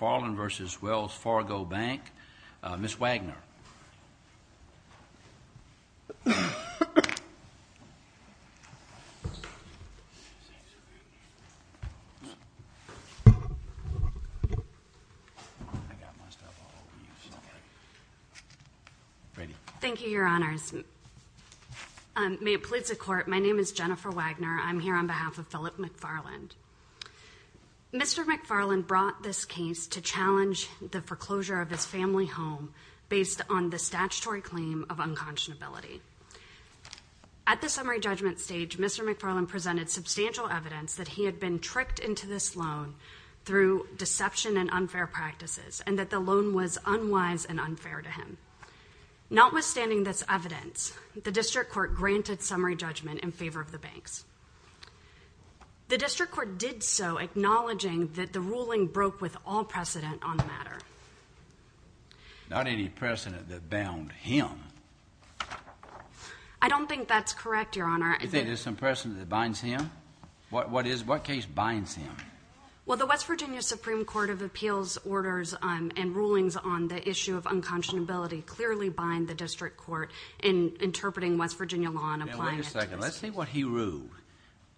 McFarland v. Wells Fargo Bank. Ms. Wagner. Thank you, Your Honors. May it please the Court, my name is Jennifer Wagner. I'm here with Mr. McFarland. Mr. McFarland brought this case to challenge the foreclosure of his family home based on the statutory claim of unconscionability. At the summary judgment stage, Mr. McFarland presented substantial evidence that he had been tricked into this loan through deception and unfair practices and that the loan was unwise and unfair to him. Notwithstanding this evidence, the District Court granted summary judgment in favor of the banks. The ruling broke with all precedent on the matter. Not any precedent that bound him. I don't think that's correct, Your Honor. You think there's some precedent that binds him? What case binds him? Well, the West Virginia Supreme Court of Appeals orders and rulings on the issue of unconscionability clearly bind the District Court in interpreting West Virginia Wait a second. Let's see what he ruled.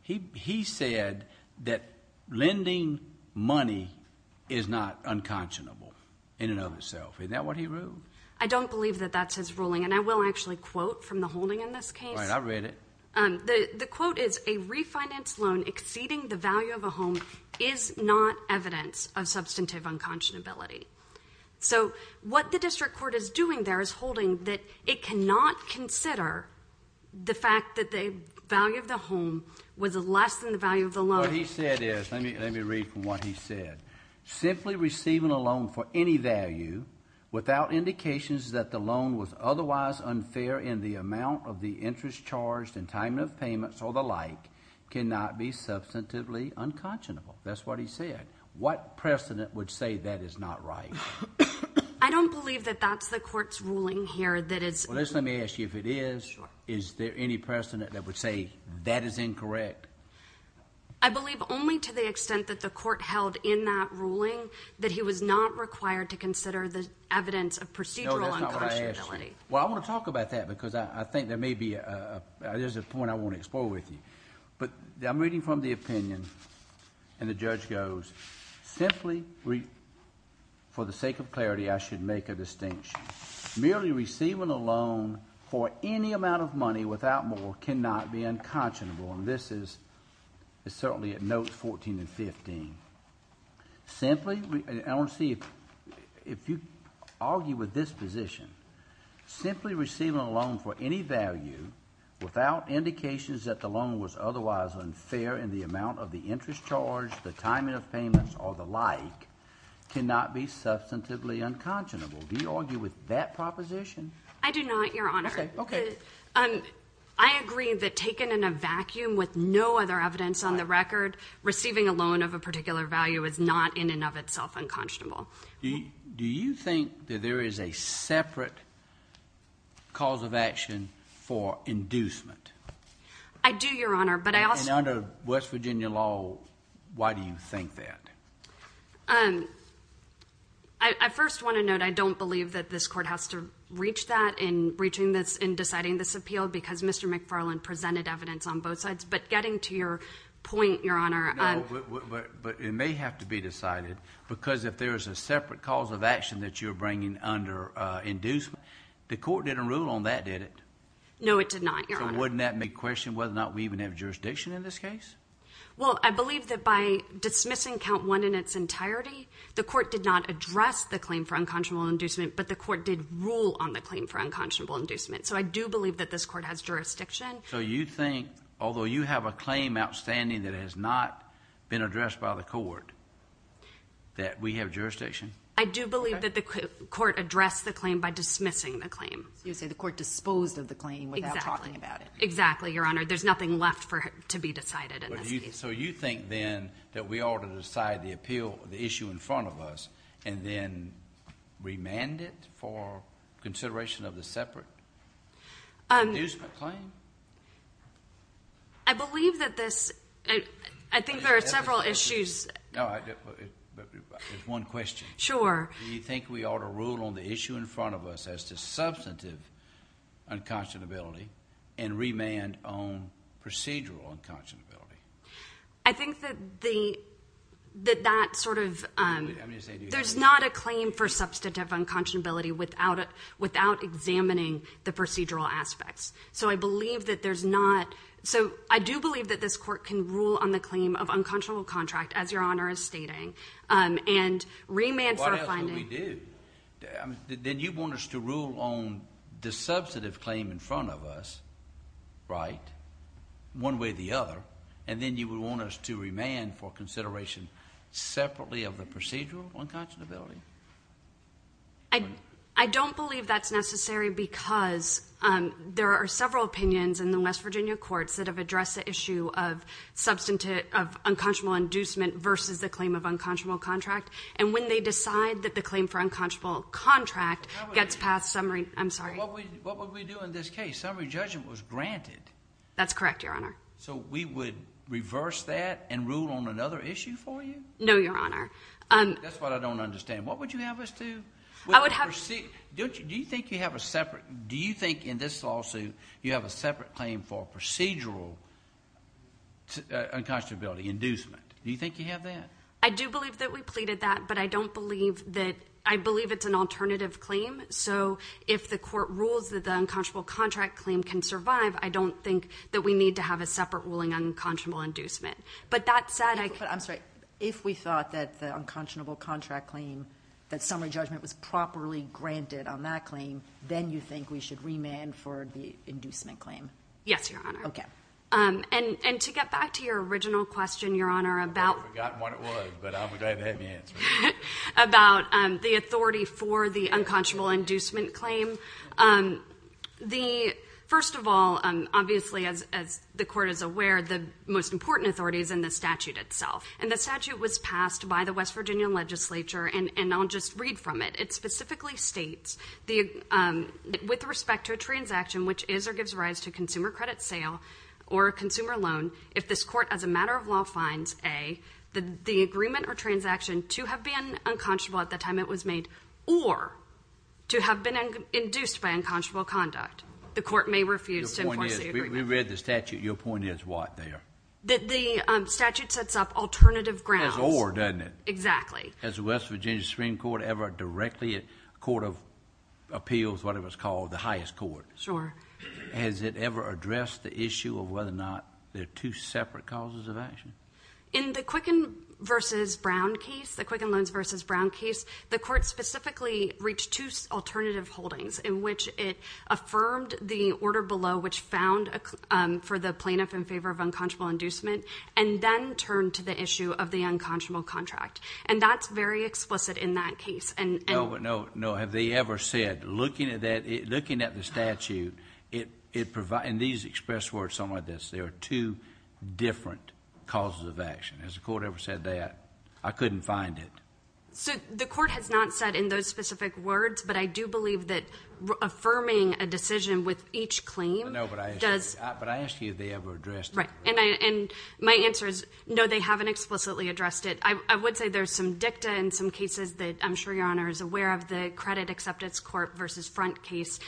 He said that lending money is not unconscionable in and of itself. Isn't that what he ruled? I don't believe that that's his ruling, and I will actually quote from the holding in this case. Right, I read it. The quote is, a refinanced loan exceeding the value of a home is not evidence of substantive unconscionability. So what the District Court is doing there is holding that it cannot consider the fact that the value of the home was less than the value of the loan. What he said is, let me read from what he said. Simply receiving a loan for any value without indications that the loan was otherwise unfair in the amount of the interest charged and time of payments or the like cannot be substantively unconscionable. That's what he said. What precedent would say that is not right? I don't believe that that's the court's ruling here. Let me ask you, if it is, is there any precedent that would say that is incorrect? I believe only to the extent that the court held in that ruling that he was not required to consider the evidence of procedural unconscionability. No, that's not what I asked you. Well, I want to talk about that because I think there may be a point I want to explore with you. But I'm reading from the opinion and the judge goes, simply for the sake of clarity I should make a distinction. Merely receiving a loan for any amount of money without more cannot be unconscionable. And this is certainly at notes 14 and 15. Simply, I want to see if you argue with this position. Simply receiving a loan for any value without indications that the loan was otherwise unfair in the amount of the interest charge, the time of payments or the like cannot be substantively unconscionable. Do you argue with that proposition? I do not, Your Honor. I agree that taken in a vacuum with no other evidence on the record, receiving a loan of a particular value is not in and of itself unconscionable. Do you think that there is a separate cause of action for inducement? I do, Your Honor. And under West Virginia law, why do you think that? I first want to note I don't believe that this court has to reach that in deciding this appeal because Mr. McFarland presented evidence on both sides. But getting to your point, Your Honor. No, but it may have to be decided because if there is a separate cause of action that you're bringing under inducement, the court didn't rule on that, did it? No, it did not, Your Honor. So wouldn't that make question whether or not we even have jurisdiction in this case? Well, I believe that by dismissing count one in its entirety, the court did not address the claim for unconscionable inducement, but the court did rule on the claim for unconscionable inducement. So I do believe that this court has jurisdiction. So you think, although you have a claim outstanding that has not been addressed, that we have jurisdiction? I do believe that the court addressed the claim by dismissing the claim. You say the court disposed of the claim without talking about it. Exactly, Your Honor. There's nothing left for it to be decided in this case. So you think then that we ought to decide the appeal, the issue in front of us, and then remand it for consideration of the separate inducement claim? I believe that this, I think there are several issues. There's one question. Do you think we ought to rule on the issue in front of us as to substantive unconscionability and remand on procedural unconscionability? I think that that sort of, there's not a claim for substantive unconscionability without examining the procedural aspects. So I believe that there's not, so I do believe that this procedural contract, as Your Honor is stating, and remand for finding— Why else would we do? Then you want us to rule on the substantive claim in front of us, right, one way or the other, and then you would want us to remand for consideration separately of the procedural unconscionability? I don't believe that's necessary because there are several opinions in the West Virginia courts that have addressed the issue of unconscionable inducement versus the claim of unconscionable contract, and when they decide that the claim for unconscionable contract gets past summary—I'm sorry. What would we do in this case? Summary judgment was granted. That's correct, Your Honor. So we would reverse that and rule on another issue for you? No, Your Honor. That's what I don't understand. What would you have us do? I would have— Do you think you have a separate, do you think in this lawsuit you have a separate claim for procedural unconscionability, inducement? Do you think you have that? I do believe that we pleaded that, but I don't believe that—I believe it's an alternative claim, so if the court rules that the unconscionable contract claim can survive, I don't think that we need to have a separate ruling on unconscionable inducement. But that said, I— I'm sorry. If we thought that the unconscionable contract claim, that summary judgment was properly granted on that claim, then you think we should remand for the inducement claim? Yes, Your Honor. Okay. And to get back to your original question, Your Honor, about— I forgot what it was, but I'm glad you had me answer it. —about the authority for the unconscionable inducement claim, the—first of all, obviously as the court is aware, the most important authority is in the statute itself. And the statute specifically states, with respect to a transaction which is or gives rise to consumer credit sale or a consumer loan, if this court as a matter of law finds, A, the agreement or transaction to have been unconscionable at the time it was made or to have been induced by unconscionable conduct, the court may refuse to enforce the agreement. Your point is—we read the statute. Your point is what there? The statute sets up alternative grounds. As or, doesn't it? Exactly. Has the West Virginia Supreme Court ever directly, a court of appeals, whatever it's called, the highest court— Sure. —has it ever addressed the issue of whether or not there are two separate causes of action? In the Quicken v. Brown case, the Quicken Loans v. Brown case, the court specifically reached two alternative holdings in which it affirmed the order below which found for the plaintiff in favor of unconscionable inducement and then turned to the issue of the unconscionable contract. And that's very explicit in that case. No, no, no. Have they ever said, looking at the statute, it provides—and these express words sound like this—there are two different causes of action. Has the court ever said that? I couldn't find it. So, the court has not said in those specific words, but I do believe that affirming a decision with each claim does— No, but I asked you if they ever addressed that. Right. And my answer is no, they haven't explicitly addressed it. I would say there's some dicta in some cases that I'm sure Your Honor is aware of, the Credit Acceptance Court v. Front case.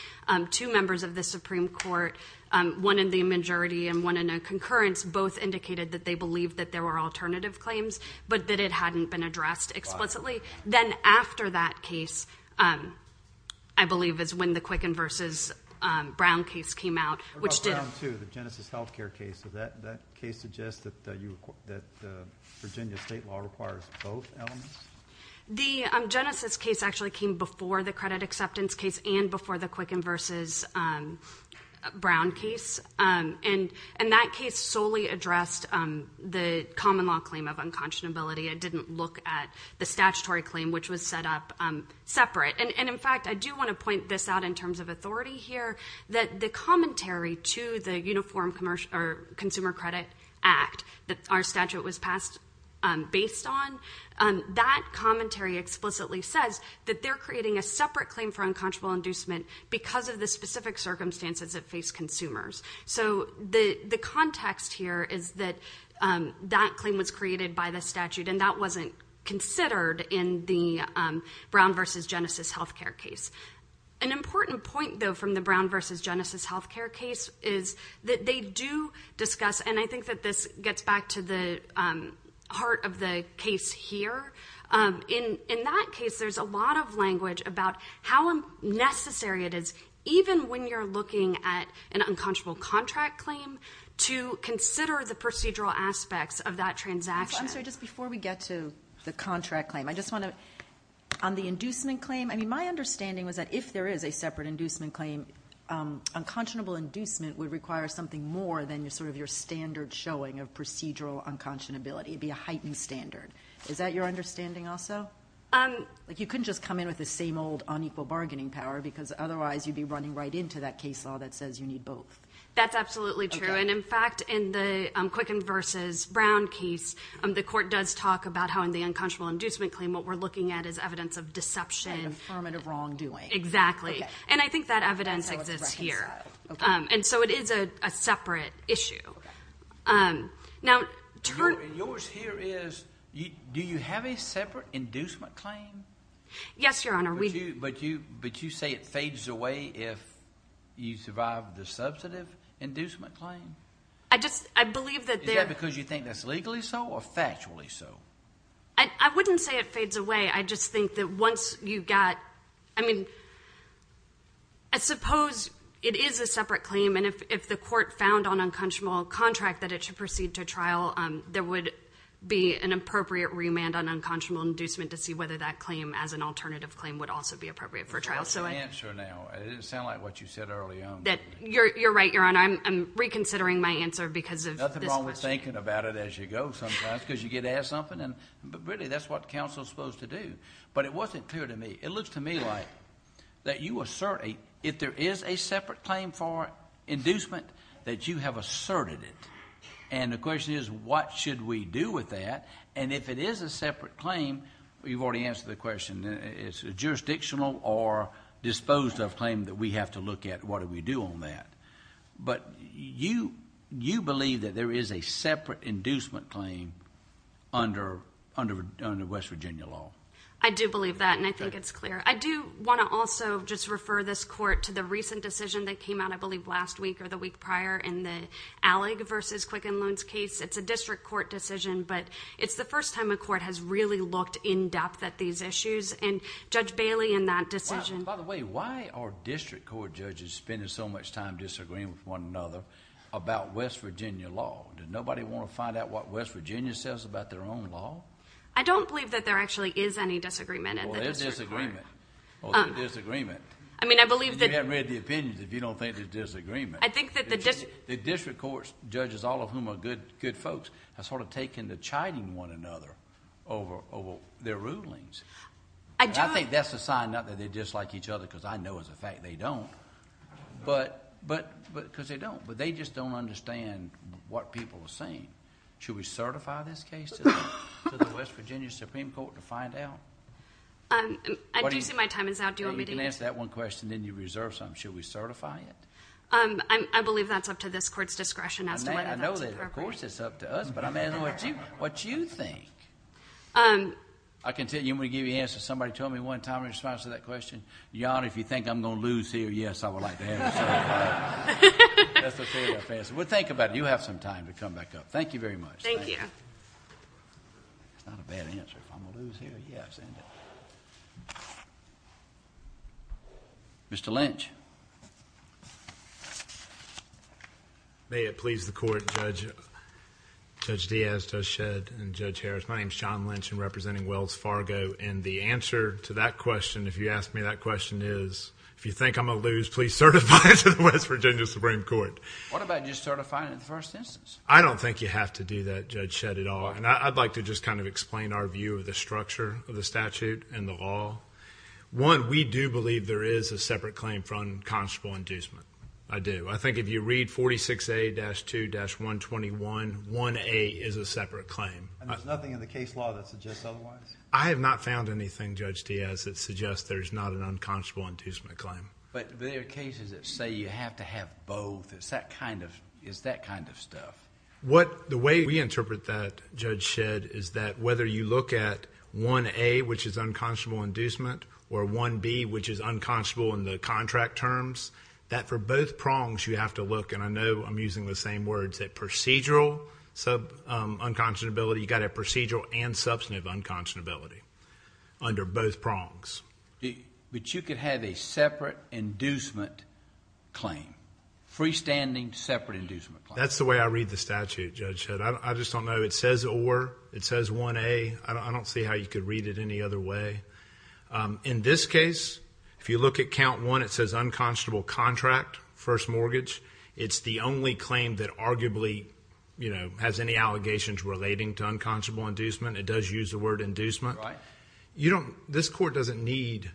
Two members of the Supreme Court, one in the majority and one in a concurrence, both indicated that they believed that there were alternative claims, but that it hadn't been addressed explicitly. Wow. Then after that case, I believe is when the Quicken v. Brown case came out, which did— Does that case suggest that Virginia state law requires both elements? The Genesis case actually came before the Credit Acceptance case and before the Quicken v. Brown case, and that case solely addressed the common law claim of unconscionability. It didn't look at the statutory claim, which was set up separate. And in fact, I do want to point this out in terms of authority here, that the commentary to the Uniform Consumer Credit Act that our statute was passed based on, that commentary explicitly says that they're creating a separate claim for unconscionable inducement because of the specific circumstances that face consumers. So the context here is that that claim was created by the statute and that wasn't considered in the Brown v. Genesis healthcare case. An important point, though, from the Brown v. Genesis healthcare case is that they do discuss—and I think that this gets back to the heart of the case here—in that case, there's a lot of language about how necessary it is, even when you're looking at an unconscionable contract claim, to consider the procedural aspects of that transaction. I'm sorry, just before we get to the contract claim, I just want to—on the inducement claim, I mean, my understanding was that if there is a separate inducement claim, unconscionable inducement would require something more than sort of your standard showing of procedural unconscionability. It would be a heightened standard. Is that your understanding also? You couldn't just come in with the same old unequal bargaining power because otherwise you'd be running right into that case law that says you need both. That's absolutely true. And in fact, in the Quicken v. Brown case, the court does talk about how in the unconscionable inducement claim, what we're looking at is evidence of deception. And affirmative wrongdoing. Exactly. And I think that evidence exists here. And so it is a separate issue. And yours here is, do you have a separate inducement claim? Yes, Your Honor. But you say it fades away if you survive the substantive inducement claim? I just—I believe that— Is that because you think that's legally so or factually so? I wouldn't say it fades away. I just think that once you've got—I mean, I suppose it is a separate claim. And if the court found on unconscionable contract that it should proceed to trial, there would be an appropriate remand on unconscionable inducement to see whether that claim as an alternative claim would also be appropriate for trial. That's the answer now. It didn't sound like what you said early on. You're right, Your Honor. I'm reconsidering my answer because of this question. Nothing wrong with thinking about it as you go sometimes because you get asked something. But really, that's what counsel is supposed to do. But it wasn't clear to me. It looks to me like that you assert—if there is a separate claim for inducement, that you have asserted it. And the question is, what should we do with that? And if it is a separate claim, you've already answered the question. It's a jurisdictional or disposed of claim that we have to look at what do we do on that. But you believe that there is a separate inducement claim under West Virginia law. I do believe that, and I think it's clear. I do want to also just refer this court to the recent decision that came out, I believe, last week or the week prior in the Allig v. Quicken Loans case. It's a district court decision, but it's the first time a court has really looked in depth at these issues. And Judge Bailey, in that decision— By the way, why are district court judges spending so much time disagreeing with one another about West Virginia law? Does nobody want to find out what West Virginia says about their own law? I don't believe that there actually is any disagreement at the district court. Well, there's disagreement. There's disagreement. I mean, I believe that— You haven't read the opinions if you don't think there's disagreement. I think that the district— The district court judges, all of whom are good folks, have sort of taken to chiding one another over their rulings. I don't— I think that's a sign not that they dislike each other, because I know as a fact they don't, because they don't. But they just don't understand what people are saying. Should we certify this case to the West Virginia Supreme Court to find out? Do you see my time is out? Do you want me to— You can answer that one question, then you reserve some. Should we certify it? I believe that's up to this court's discretion as to whether that's appropriate. Of course, it's up to us, but I'm asking what you think. I can tell you, I'm going to give you answers. Somebody told me one time in response to that question, Your Honor, if you think I'm going to lose here, yes, I would like to answer that. That's a fair enough answer. Well, think about it. You have some time to come back up. Thank you very much. Thank you. It's not a bad answer. If I'm going to lose here, yes. Mr. Lynch. May it please the court, Judge Diaz, Judge Shedd, and Judge Harris. My name is John Lynch and I'm representing Wells Fargo. And the answer to that question, if you ask me that question is, if you think I'm going to lose, please certify it to the West Virginia Supreme Court. What about just certifying it in the first instance? I don't think you have to do that, Judge Shedd, at all. And I'd like to just kind of explain our view of the structure of the statute and the law. One, we do believe there is a separate claim for unconscionable inducement. I do. I think if you read 46A-2-121, 1A is a separate claim. And there's nothing in the case law that suggests otherwise? I have not found anything, Judge Diaz, that suggests there's not an unconscionable inducement claim. But there are cases that say you have to have both. Is that kind of stuff? The way we interpret that, Judge Shedd, is that whether you look at 1A, which is unconscionable in the contract terms, that for both prongs you have to look, and I know I'm using the same words, at procedural unconscionability. You've got to have procedural and substantive unconscionability under both prongs. But you could have a separate inducement claim, freestanding separate inducement claim? That's the way I read the statute, Judge Shedd. I just don't know. It says or, it says 1A. I don't see how you could read it any other way. In this case, if you look at count 1, it says unconscionable contract, first mortgage. It's the only claim that arguably, you know, has any allegations relating to unconscionable inducement. It does use the word inducement. Right. You don't, this court doesn't need,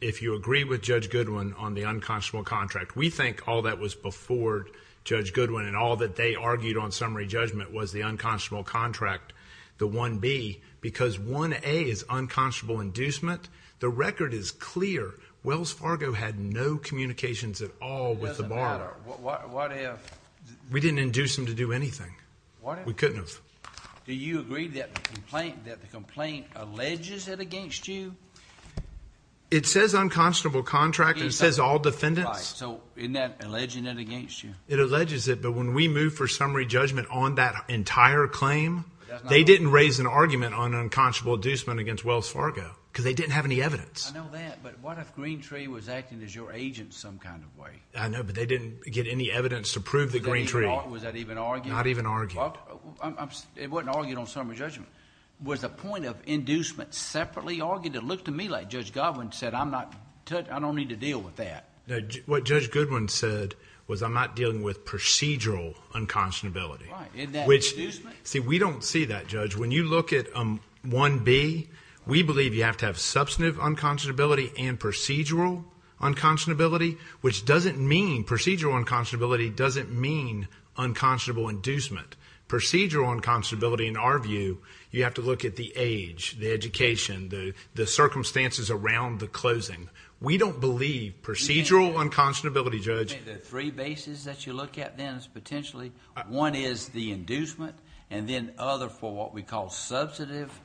if you agree with Judge Goodwin on the unconscionable contract, we think all that was before Judge Goodwin and all that they argued on summary judgment was the unconscionable contract, the 1B, because 1A is unconscionable inducement. The record is clear. Wells Fargo had no communications at all with the bar. It doesn't matter. What if? We didn't induce them to do anything. What if? We couldn't have. Do you agree that the complaint, that the complaint alleges it against you? It says unconscionable contract. It says all defendants. Right. So isn't that alleging it against you? It alleges it, but when we moved for summary judgment on that entire claim, they didn't raise an argument on unconscionable inducement against Wells Fargo because they didn't have any evidence. I know that, but what if Green Tree was acting as your agent some kind of way? I know, but they didn't get any evidence to prove that Green Tree. Was that even argued? Not even argued. It wasn't argued on summary judgment. Was the point of inducement separately argued? It looked to me like Judge Godwin said, I'm not, I don't need to deal with that. What Judge Godwin said was I'm not dealing with procedural unconscionability. Right. Isn't that inducement? See, we don't see that, Judge. When you look at 1B, we believe you have to have substantive unconscionability and procedural unconscionability, which doesn't mean, procedural unconscionability doesn't mean unconscionable inducement. Procedural unconscionability, in our view, you have to look at the age, the education, the circumstances around the closing. We don't believe procedural unconscionability, Judge... The three bases that you look at then is potentially, one is the inducement, and then other for what we call substantive,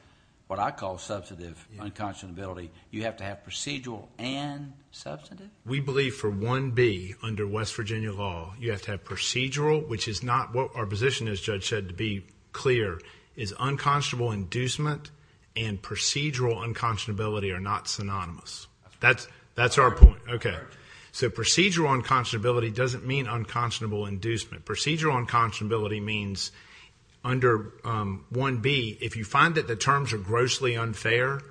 what I call substantive unconscionability, you have to have procedural and substantive? We believe for 1B, under West Virginia law, you have to have procedural, which is not what our position is, Judge Shedd, to be clear, is unconscionable inducement and procedural unconscionability are not synonymous. That's our point. Okay. So procedural unconscionability doesn't mean unconscionable inducement. Procedural unconscionability means, under 1B, if you find that the terms are grossly unfair,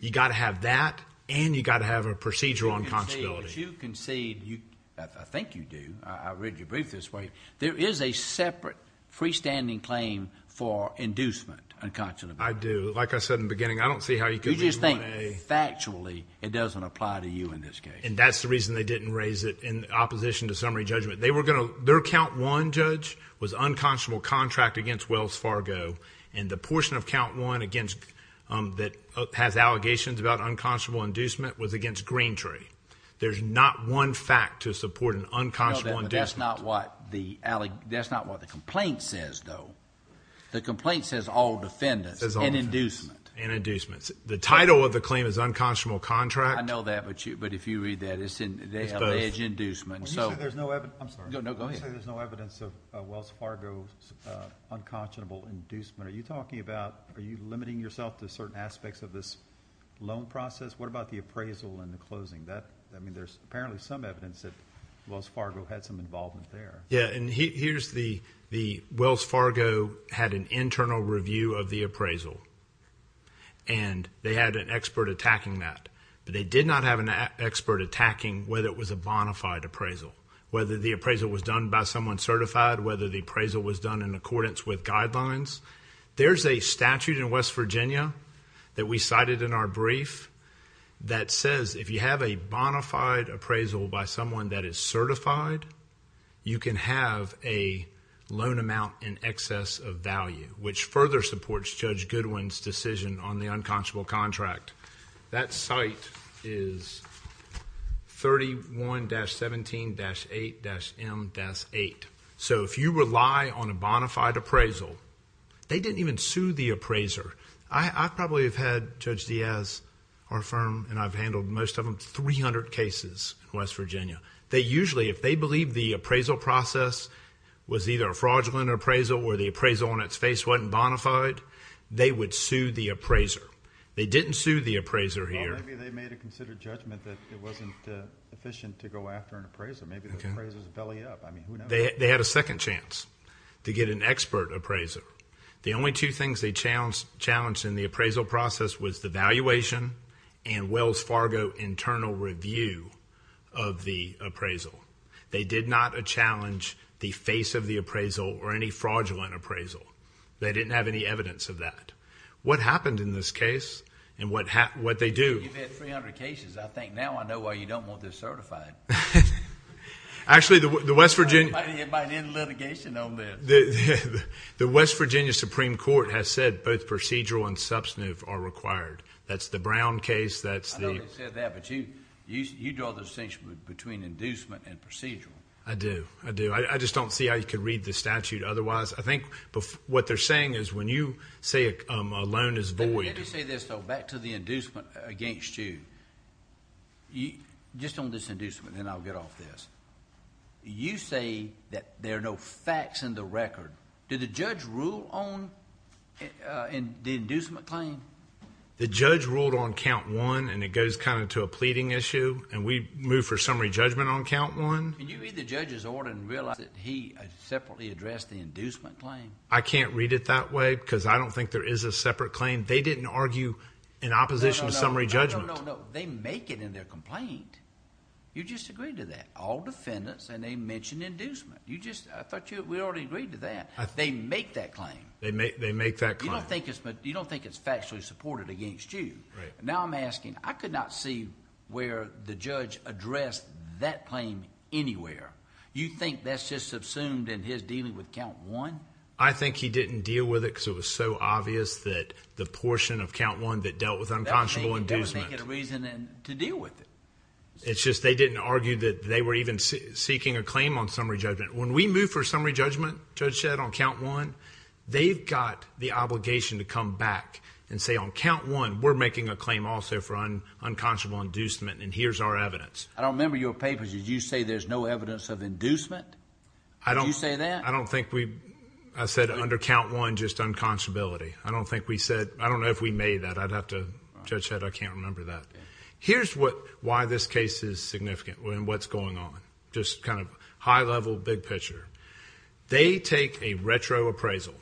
you've got to have that and you've got to have a procedural unconscionability. As you concede, I think you do, I read your brief this way, there is a separate freestanding claim for inducement unconscionability. I do. Like I said in the beginning, I don't see how you could... You just think factually it doesn't apply to you in this case. And that's the reason they didn't raise it in opposition to summary judgment. Their count one, Judge, was unconscionable contract against Wells Fargo, and the portion of count one that has allegations about unconscionable inducement was against Green Tree. There's not one fact to support an unconscionable inducement. No, that's not what the complaint says, though. The complaint says all defendants and inducement. The title of the claim is unconscionable contract. I know that, but if you read that, it's alleged inducement. I'm sorry. No, go ahead. You say there's no evidence of Wells Fargo's unconscionable inducement. Are you limiting yourself to certain aspects of this loan process? What about the appraisal and the closing? I mean, there's apparently some evidence that Wells Fargo had some involvement there. Yeah, and here's the Wells Fargo had an internal review of the appraisal, and they had an expert attacking that, but they did not have an expert attacking whether it was a bona fide appraisal, whether the appraisal was done by someone certified, whether the appraisal was done in accordance with guidelines. There's a statute in West Virginia that we cited in our brief that says if you have a bona fide appraisal by someone that is certified, you can have a loan amount in excess of value, which further supports Judge Goodwin's decision on the unconscionable contract. That site is 31-17-8-M-8. If you rely on a bona fide appraisal, they didn't even sue the appraiser. I probably have had Judge Diaz, our firm, and I've handled most of them, 300 cases in West Virginia. They usually, if they believe the appraisal process was either a fraudulent appraisal or the appraisal on its face wasn't bona fide, they would sue the appraiser. They didn't sue the appraiser here. Well, maybe they made a considered judgment that it wasn't efficient to go after an appraiser. Maybe the appraiser's belly up. I mean, who knows? They had a second chance to get an expert appraiser. The only two things they challenged in the appraisal process was the valuation and Wells Fargo internal review of the appraisal. They did not challenge the face of the appraisal or any fraudulent appraisal. They didn't have any evidence of that. What happened in this case and what they do... You've had 300 cases. I think now I know why you don't want this certified. Actually, the West Virginia... Everybody did litigation on this. The West Virginia Supreme Court has said both procedural and substantive are required. That's the Brown case. That's the... I know they said that, but you draw the distinction between inducement and procedural. I do. I do. I just don't see how you could read the statute otherwise. I think what they're saying is when you say a loan is void... Let me say this, though. Back to the inducement against you. Just on this inducement, then I'll get off this. You say that there are no facts in the record. Did the judge rule on the inducement claim? The judge ruled on count one, and it goes kind of to a pleading issue. We moved for summary judgment on count one. Can you read the judge's order and realize that he separately addressed the inducement claim? I can't read it that way because I don't think there is a separate claim. They didn't argue in opposition to summary judgment. No, no, no, no. They make it in their complaint. You just agreed to that. All defendants, and they mention inducement. I thought we already agreed to that. They make that claim. They make that claim. You don't think it's factually supported against you. Right. Now I'm asking, I could not see where the judge addressed that claim anywhere. You think that's just subsumed in his dealing with count one? I think he didn't deal with it because it was so obvious that the portion of count one that dealt with unconscionable inducement... It's just they didn't argue that they were even seeking a claim on summary judgment. When we moved for summary judgment, Judge Shedd, on count one, they've got the obligation to come back and say on count one, we're making a claim also for unconscionable inducement and here's our evidence. I don't remember your papers. Did you say there's no evidence of inducement? Did you say that? I don't think we... I said under count one, just unconscionability. I don't think we said... I don't know if we made that. I'd have to... Judge Shedd, I can't remember that. Here's why this case is significant and what's going on. Just kind of high level, big picture. They take a retro appraisal.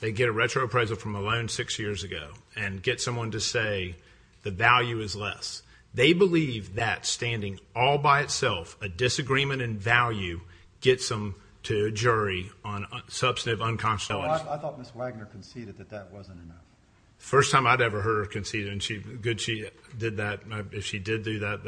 They get a retro appraisal from a loan six years ago and get someone to say the value is less. They believe that standing all by itself, a disagreement in value, gets them to a jury on substantive unconscionability. I thought Ms. Wagner conceded that that wasn't enough. First time I'd ever heard her concede and she... good she did that. If she did do that,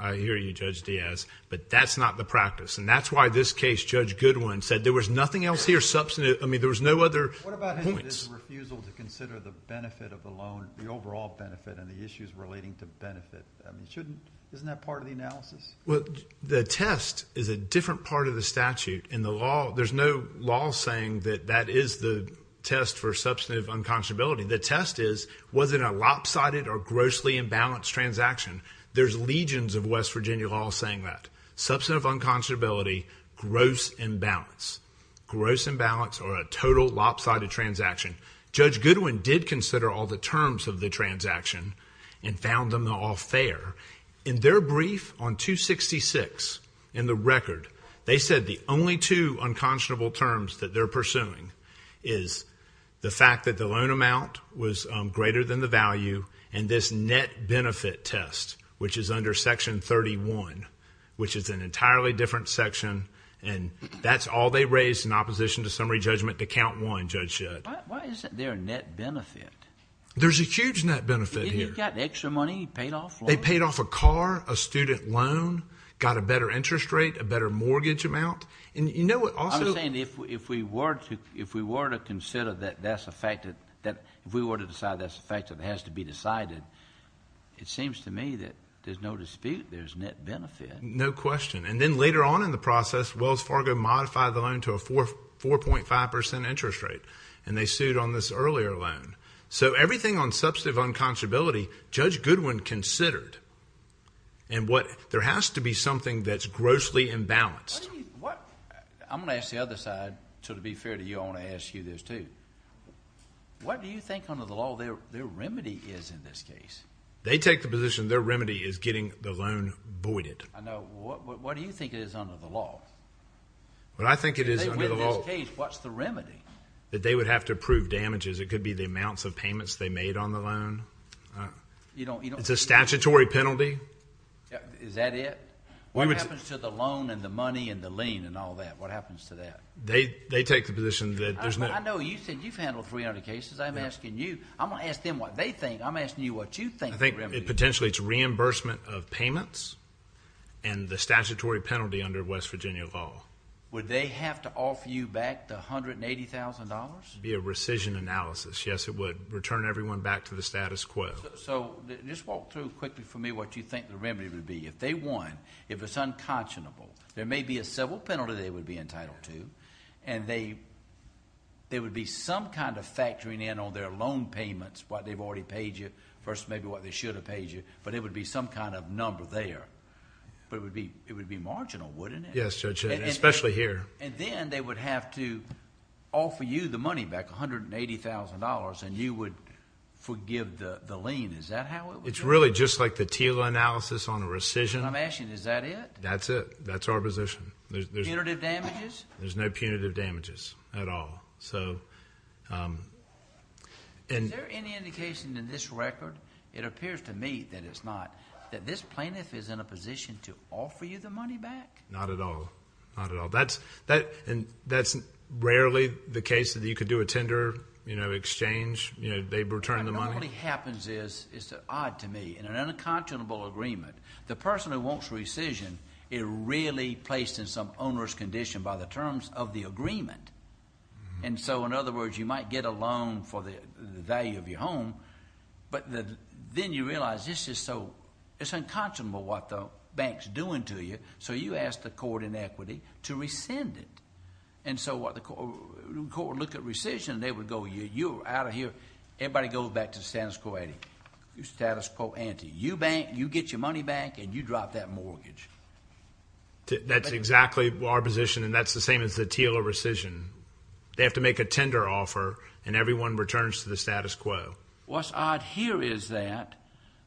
I hear you, Judge Diaz, but that's not the practice and that's why this case, Judge Goodwin, said there was nothing else here substantive. I mean, there was no other points. What about his refusal to consider the benefit of the loan, the overall benefit and the issues relating to benefit? I mean, shouldn't... isn't that part of the analysis? Well, the test is a different part of the statute. In the law, there's no law saying that that is the test for substantive unconscionability. The test is, was it a lopsided or grossly imbalanced transaction? There's legions of West Virginia law saying that. Substantive unconscionability, gross imbalance. Gross imbalance or a total lopsided transaction. Judge Goodwin did consider all the terms of the transaction and found them all fair. In their brief on 266, in the record, they said the only two unconscionable terms that they're pursuing is the fact that the loan amount was greater than the value and this net benefit test, which is under Section 31, which is an entirely different section, and that's all they raised in opposition to summary judgment to count one, Judge Judd. Why isn't there a net benefit? There's a huge net benefit here. They got extra money, paid off loans. They paid off a car, a student loan, got a better interest rate, a better mortgage amount. I'm saying if we were to consider that that's a fact, if we were to decide that's a fact, that it has to be decided, it seems to me that there's no dispute there's net benefit. No question. And then later on in the process, Wells Fargo modified the loan to a 4.5% interest rate, and they sued on this earlier loan. So everything on substantive unconscionability, Judge Goodwin considered. There has to be something that's grossly imbalanced. I'm going to ask the other side, so to be fair to you, I want to ask you this too. What do you think under the law their remedy is in this case? They take the position their remedy is getting the loan voided. What do you think it is under the law? What I think it is under the law... In this case, what's the remedy? That they would have to approve damages. It could be the amounts of payments they made on the loan. It's a statutory penalty. Is that it? What happens to the loan and the money and the lien and all that? What happens to that? They take the position that there's no... I know you said you've handled 300 cases. I'm asking you. I'm going to ask them what they think. I'm asking you what you think the remedy is. I think potentially it's reimbursement of payments and the statutory penalty under West Virginia law. Would they have to offer you back the $180,000? It would be a rescission analysis. Yes, it would. Return everyone back to the status quo. Just walk through quickly for me what you think the remedy would be. If they won, if it's unconscionable, there may be a civil penalty they would be entitled to, and there would be some kind of factoring in on their loan payments, what they've already paid you versus maybe what they should have paid you, but it would be some kind of number there. It would be marginal, wouldn't it? Yes, Judge, especially here. Then they would have to offer you the money back, $180,000, and you would forgive the lien. Is that how it would be? It's really just like the TILA analysis on a rescission. I'm asking you, is that it? That's it. That's our position. Punitive damages? There's no punitive damages at all. Is there any indication in this record, it appears to me that it's not, that this plaintiff is in a position to offer you the money back? Not at all. Not at all. That's rarely the case that you could do a tender exchange. They'd return the money. What normally happens is, it's odd to me, in an unconscionable agreement, the person who wants rescission is really placed in some onerous condition by the terms of the agreement. And so, in other words, you might get a loan for the value of your home, but then you realize it's unconscionable what the bank's doing to you, so you ask the court in equity to rescind it. And so, the court would look at rescission, and they would go, you're out of here, everybody goes back to the status quo ante. You bank, you get your money back, and you drop that mortgage. That's exactly our position, and that's the same as the TILA rescission. They have to make a tender offer, and everyone returns to the status quo. What's odd here is that,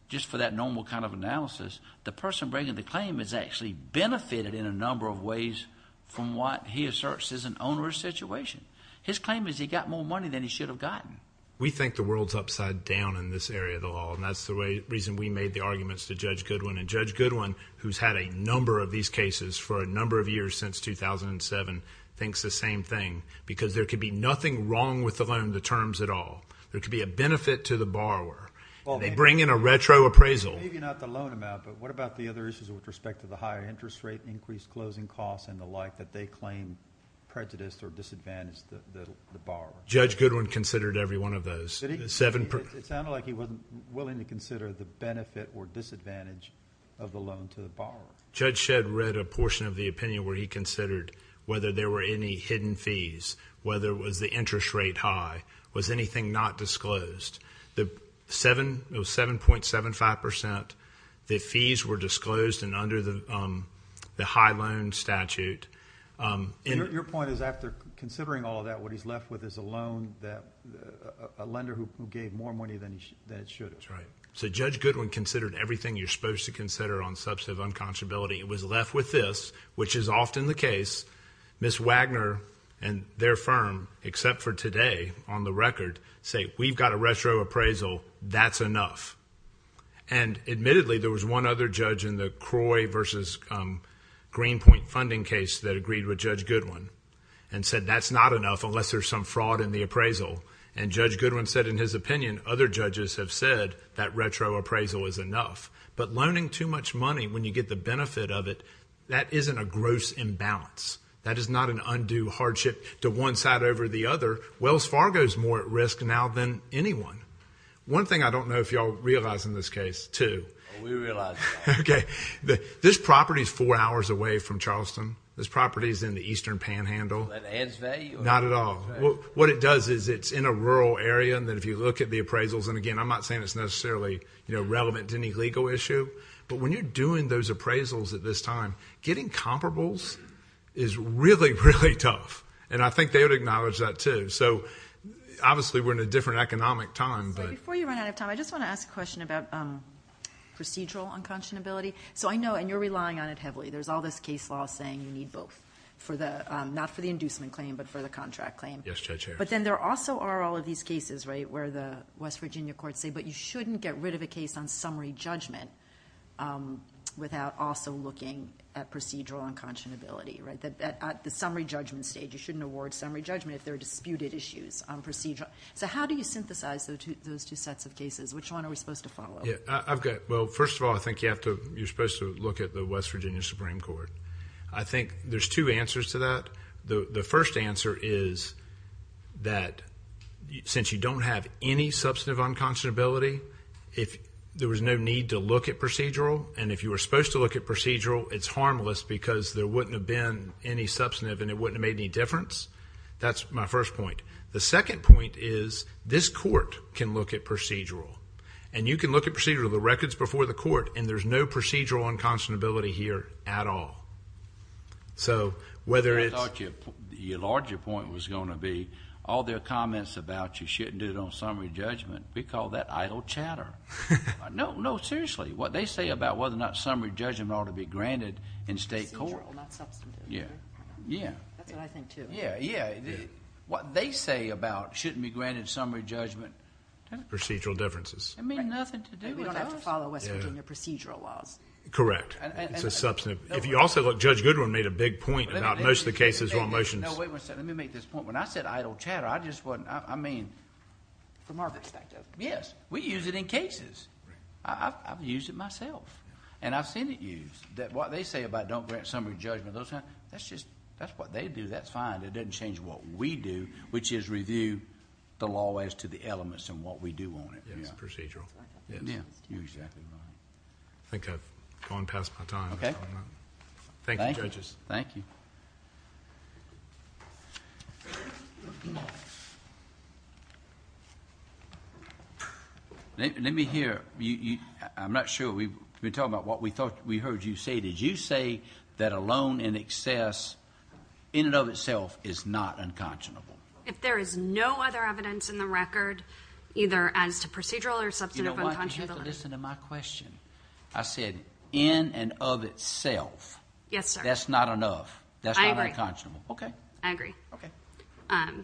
just for that normal kind of analysis, the person bringing the claim has actually benefited in a number of ways from what he asserts is an onerous situation. His claim is he got more money than he should have gotten. We think the world's upside down in this area of the law, and that's the reason we made the arguments to Judge Goodwin. And Judge Goodwin, who's had a number of these cases for a number of years since 2007, thinks the same thing, because there could be nothing wrong with the loan, the terms at all. There could be a benefit to the borrower. They bring in a retro appraisal. Maybe not the loan amount, but what about the other issues with respect to the higher interest rate, increased closing costs, and the like that they claim prejudiced or disadvantaged the borrower? Judge Goodwin considered every one of those. It sounded like he wasn't willing to consider the benefit or disadvantage of the loan to the borrower. Judge Shedd read a portion of the opinion where he considered whether there were any hidden fees, whether it was the interest rate high, was anything not disclosed. It was 7.75%. The fees were disclosed and under the high loan statute. Your point is after considering all of that, what he's left with is a loan, a lender who gave more money than it should have. That's right. So Judge Goodwin considered everything you're supposed to consider on substantive unconscionability. It was left with this, which is often the case. Ms. Wagner and their firm, except for today on the record, say, we've got a retro appraisal, that's enough. Admittedly, there was one other judge in the CROI versus Greenpoint funding case that agreed with Judge Goodwin and said that's not enough unless there's some fraud in the appraisal. Judge Goodwin said in his opinion, other judges have said that retro appraisal is enough. But loaning too much money when you get the benefit of it, that isn't a gross imbalance. That is not an undue hardship to one side over the other. Wells Fargo is more at risk now than anyone. One thing I don't know if you all realize in this case, too. We realize that. Okay. This property is four hours away from Charleston. This property is in the eastern panhandle. That adds value? Not at all. What it does is it's in a rural area, and if you look at the appraisals, and again, I'm not saying it's necessarily relevant to any legal issue, but when you're doing those appraisals at this time, getting comparables is really, really tough. I think they would acknowledge that, too. Obviously, we're in a different economic time. Before you run out of time, I just want to ask a question about procedural unconscionability. I know, and you're relying on it heavily. There's all this case law saying you need both, not for the inducement claim but for the contract claim. Yes, Judge Harris. But then there also are all of these cases where the West Virginia courts say, but you shouldn't get rid of a case on summary judgment without also looking at procedural unconscionability. At the summary judgment stage, you shouldn't award summary judgment if there are disputed issues on procedural. So how do you synthesize those two sets of cases? Which one are we supposed to follow? Well, first of all, I think you're supposed to look at the West Virginia Supreme Court. I think there's two answers to that. The first answer is that since you don't have any substantive unconscionability, there was no need to look at procedural. And if you were supposed to look at procedural, it's harmless because there wouldn't have been any substantive and it wouldn't have made any difference. That's my first point. The second point is this court can look at procedural. And you can look at procedural, the records before the court, and there's no procedural unconscionability here at all. So whether it's... I thought your larger point was going to be all their comments about you shouldn't do it on summary judgment. We call that idle chatter. No, seriously. What they say about whether or not summary judgment ought to be granted in state court. Procedural, not substantive. Yeah. That's what I think, too. Yeah, yeah. What they say about shouldn't be granted summary judgment. Procedural differences. It had nothing to do with us. And we don't have to follow West Virginia procedural laws. Correct. It's a substantive... If you also look, Judge Goodwin made a big point about most of the cases on motions. No, wait a second. Let me make this point. When I said idle chatter, I just wasn't... I mean, from our perspective, yes. We use it in cases. I've used it myself. And I've seen it used. What they say about don't grant summary judgment, that's just... That's what they do. That's fine. It doesn't change what we do, which is review the law as to the elements and what we do on it. Yes, procedural. Yes. You exactly know that. I think I've gone past my time. Thank you, judges. Thank you. Let me hear... I'm not sure. We're talking about what we heard you say. Did you say that a loan in excess, in and of itself, is not unconscionable? If there is no other evidence in the record, either as to procedural or substantive unconscionability... You know what? You have to listen to my question. I said in and of itself. Yes, sir. That's not enough. That's not unconscionable. I agree. Okay. I agree. Okay.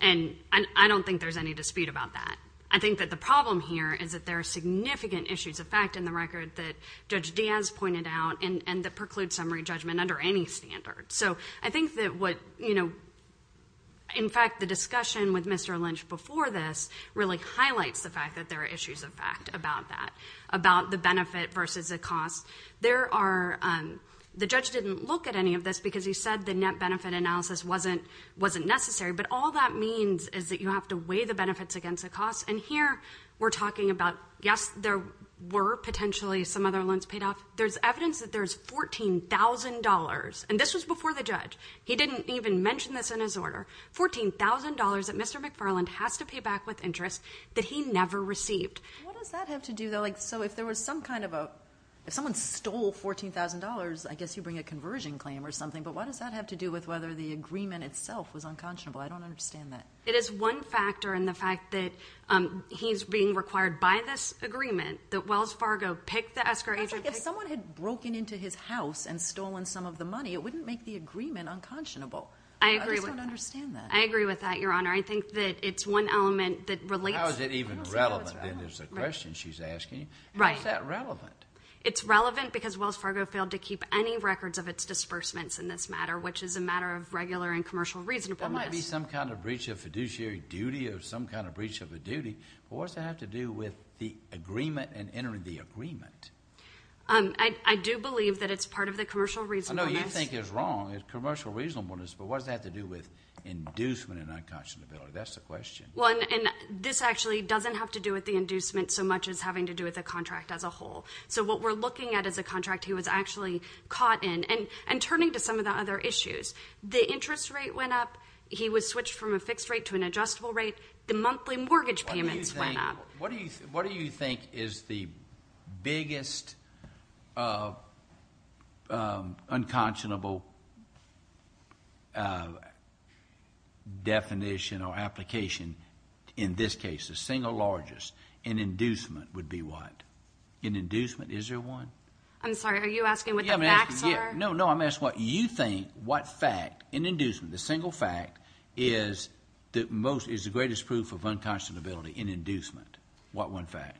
And I don't think there's any dispute about that. I think that the problem here is that there are significant issues of fact in the record that Judge Diaz pointed out and that preclude summary judgment under any standard. So I think that what... In fact, the discussion with Mr. Lynch before this really highlights the fact that there are issues of fact about that. About the benefit versus the cost. There are... The judge didn't look at any of this because he said the net benefit analysis wasn't necessary. But all that means is that you have to weigh the benefits against the cost. And here we're talking about, yes, there were potentially some other loans paid off. There's evidence that there's $14,000. And this was before the judge. He didn't even mention this in his order. $14,000 that Mr. McFarland has to pay back with interest that he never received. What does that have to do, though? So if there was some kind of a... If someone stole $14,000, I guess you bring a conversion claim or something. But what does that have to do with whether the agreement itself was unconscionable? I don't understand that. It is one factor in the fact that he's being required by this agreement that Wells Fargo picked the escrow agent. If someone had broken into his house and stolen some of the money, it wouldn't make the agreement unconscionable. I agree with that. I just don't understand that. I agree with that, Your Honor. I think that it's one element that relates... How is it even relevant, then, is the question she's asking? How is that relevant? It's relevant because Wells Fargo failed to keep any records of its disbursements in this matter, which is a matter of regular and commercial reasonableness. That might be some kind of breach of fiduciary duty or some kind of breach of a duty. But what does that have to do with the agreement and entering the agreement? I do believe that it's part of the commercial reasonableness. I know you think it's wrong. It's commercial reasonableness. But what does that have to do with inducement and unconscionability? That's the question. Well, and this actually doesn't have to do with the inducement so much as having to do with the contract as a whole. So what we're looking at is a contract he was actually caught in. And turning to some of the other issues, the interest rate went up. He was switched from a fixed rate to an adjustable rate. The monthly mortgage payments went up. What do you think is the biggest unconscionable definition or application in this case, the single largest, in inducement would be what? In inducement, is there one? I'm sorry. Are you asking what the facts are? No, no. I'm asking what you think what fact in inducement, the single fact, is the greatest proof of unconscionability in inducement. What one fact?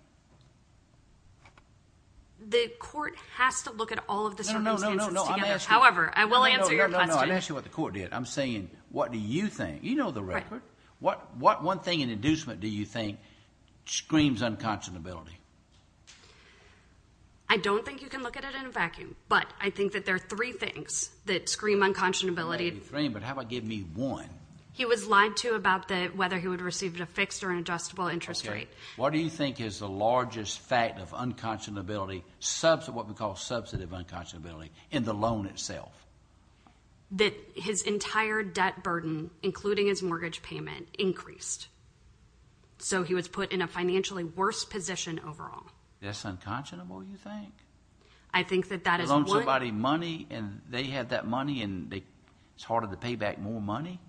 The court has to look at all of the circumstances together. However, I will answer your question. No, no, no. I'm asking what the court did. I'm saying what do you think? You know the record. What one thing in inducement do you think screams unconscionability? I don't think you can look at it in a vacuum. But I think that there are three things that scream unconscionability. Three, but how about give me one? He was lied to about whether he would receive a fixed or an adjustable interest rate. What do you think is the largest fact of unconscionability, what we call substantive unconscionability, in the loan itself? That his entire debt burden, including his mortgage payment, increased. So he was put in a financially worse position overall. That's unconscionable, you think? I think that that is one. They gave everybody money, and they had that money, and it's harder to pay back more money?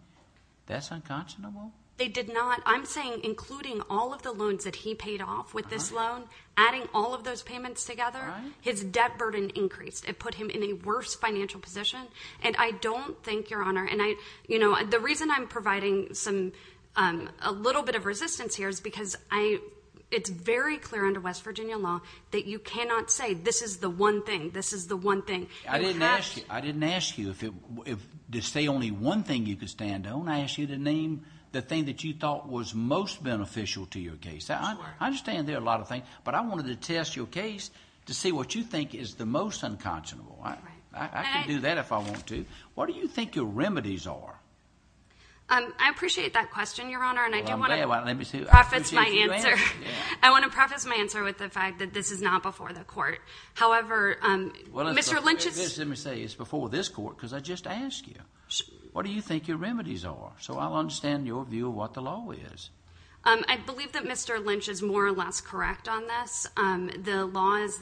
That's unconscionable? They did not. I'm saying including all of the loans that he paid off with this loan, adding all of those payments together, his debt burden increased. It put him in a worse financial position. And I don't think, Your Honor, and I, you know, the reason I'm providing a little bit of resistance here is because it's very clear under West Virginia law that you cannot say this is the one thing, this is the one thing. I didn't ask you to say only one thing you could stand on. I asked you to name the thing that you thought was most beneficial to your case. I understand there are a lot of things, but I wanted to test your case to see what you think is the most unconscionable. I can do that if I want to. What do you think your remedies are? I appreciate that question, Your Honor, and I do want to preface my answer. However, Mr. Lynch is. Let me say it's before this court because I just asked you. What do you think your remedies are? So I'll understand your view of what the law is. I believe that Mr. Lynch is more or less correct on this. The law is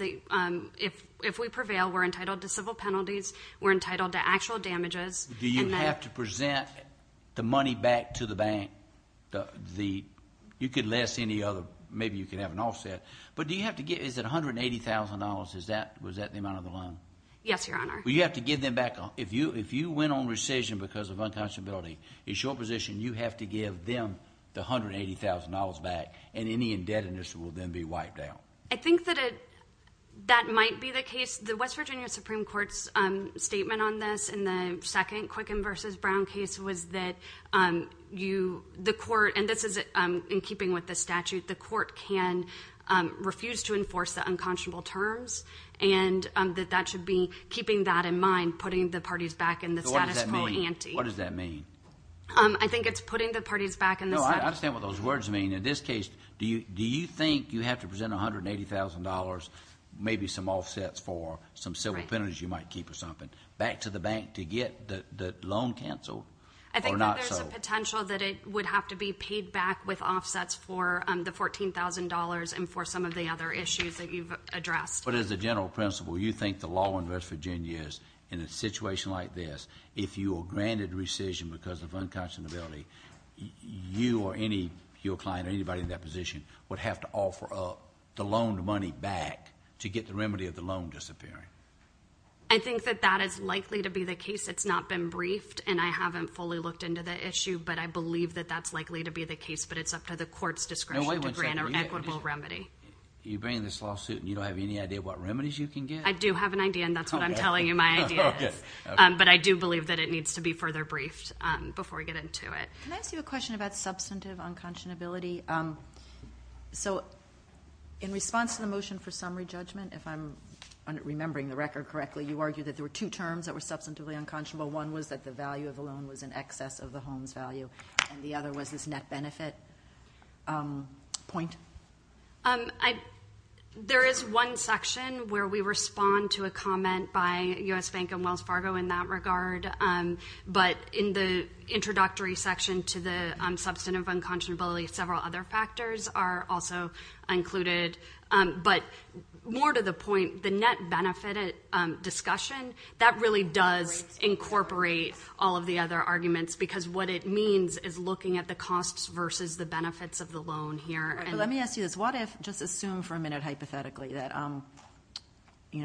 if we prevail, we're entitled to civil penalties. We're entitled to actual damages. Do you have to present the money back to the bank? You could less any other. Maybe you could have an offset. Is it $180,000? Was that the amount of the loan? Yes, Your Honor. You have to give them back. If you went on rescission because of unconscionability, it's your position you have to give them the $180,000 back, and any indebtedness will then be wiped out. I think that might be the case. The West Virginia Supreme Court's statement on this in the second Quicken v. Brown case was that the court, and this is in keeping with the statute, the court can refuse to enforce the unconscionable terms, and that that should be keeping that in mind, putting the parties back in the status quo ante. What does that mean? I think it's putting the parties back in the status quo. No, I understand what those words mean. In this case, do you think you have to present $180,000, maybe some offsets for some civil penalties you might keep or something, back to the bank to get the loan canceled? I think that there's a potential that it would have to be paid back with offsets for the $14,000 and for some of the other issues that you've addressed. But as a general principle, you think the law in West Virginia is in a situation like this, if you are granted rescission because of unconscionability, you or your client or anybody in that position would have to offer up the loan money back to get the remedy of the loan disappearing. I think that that is likely to be the case. It's not been briefed, and I haven't fully looked into the issue, but I believe that that's likely to be the case, but it's up to the court's discretion to grant an equitable remedy. You bring in this lawsuit and you don't have any idea what remedies you can get? I do have an idea, and that's what I'm telling you my idea is. But I do believe that it needs to be further briefed before we get into it. Can I ask you a question about substantive unconscionability? So in response to the motion for summary judgment, if I'm remembering the record correctly, you argued that there were two terms that were substantively unconscionable. One was that the value of the loan was in excess of the home's value, and the other was this net benefit point. There is one section where we respond to a comment by U.S. Bank and Wells Fargo in that regard, but in the introductory section to the substantive unconscionability, several other factors are also included. But more to the point, the net benefit discussion, that really does incorporate all of the other arguments because what it means is looking at the costs versus the benefits of the loan here. Let me ask you this. Just assume for a minute hypothetically that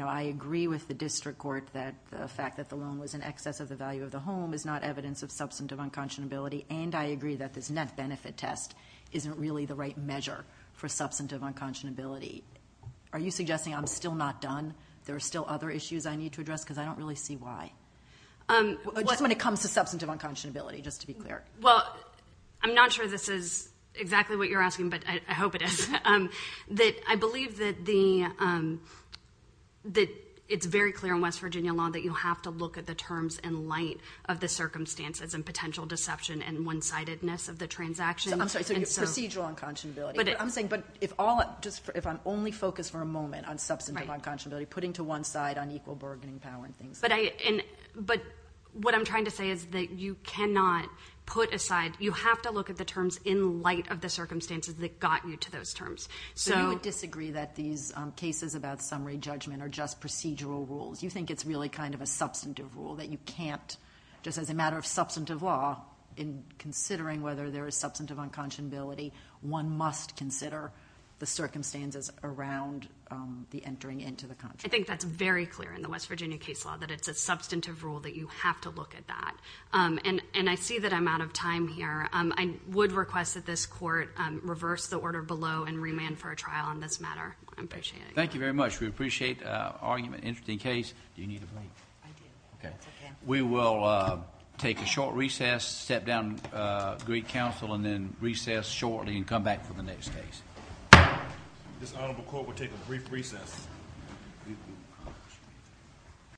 I agree with the district court that the fact that the loan was in excess of the value of the home is not evidence of substantive unconscionability, and I agree that this net benefit test isn't really the right measure for substantive unconscionability. Are you suggesting I'm still not done? There are still other issues I need to address because I don't really see why. Just when it comes to substantive unconscionability, just to be clear. Well, I'm not sure this is exactly what you're asking, but I hope it is. I believe that it's very clear in West Virginia law that you have to look at the terms in light of the circumstances and potential deception and one-sidedness of the transaction. I'm sorry, procedural unconscionability. I'm saying if I'm only focused for a moment on substantive unconscionability, putting to one side unequal bargaining power and things like that. But what I'm trying to say is that you cannot put aside, you have to look at the terms in light of the circumstances that got you to those terms. So you would disagree that these cases about summary judgment are just procedural rules. You think it's really kind of a substantive rule that you can't, just as a matter of substantive law, in considering whether there is substantive unconscionability, one must consider the circumstances around the entering into the contract. I think that's very clear in the West Virginia case law, that it's a substantive rule that you have to look at that. And I see that I'm out of time here. I would request that this court reverse the order below and remand for a trial on this matter. I appreciate it. Thank you very much. We appreciate the argument. Interesting case. Do you need a break? I do. We will take a short recess, sit down, greet counsel, and then recess shortly and come back for the next case. This honorable court will take a brief recess.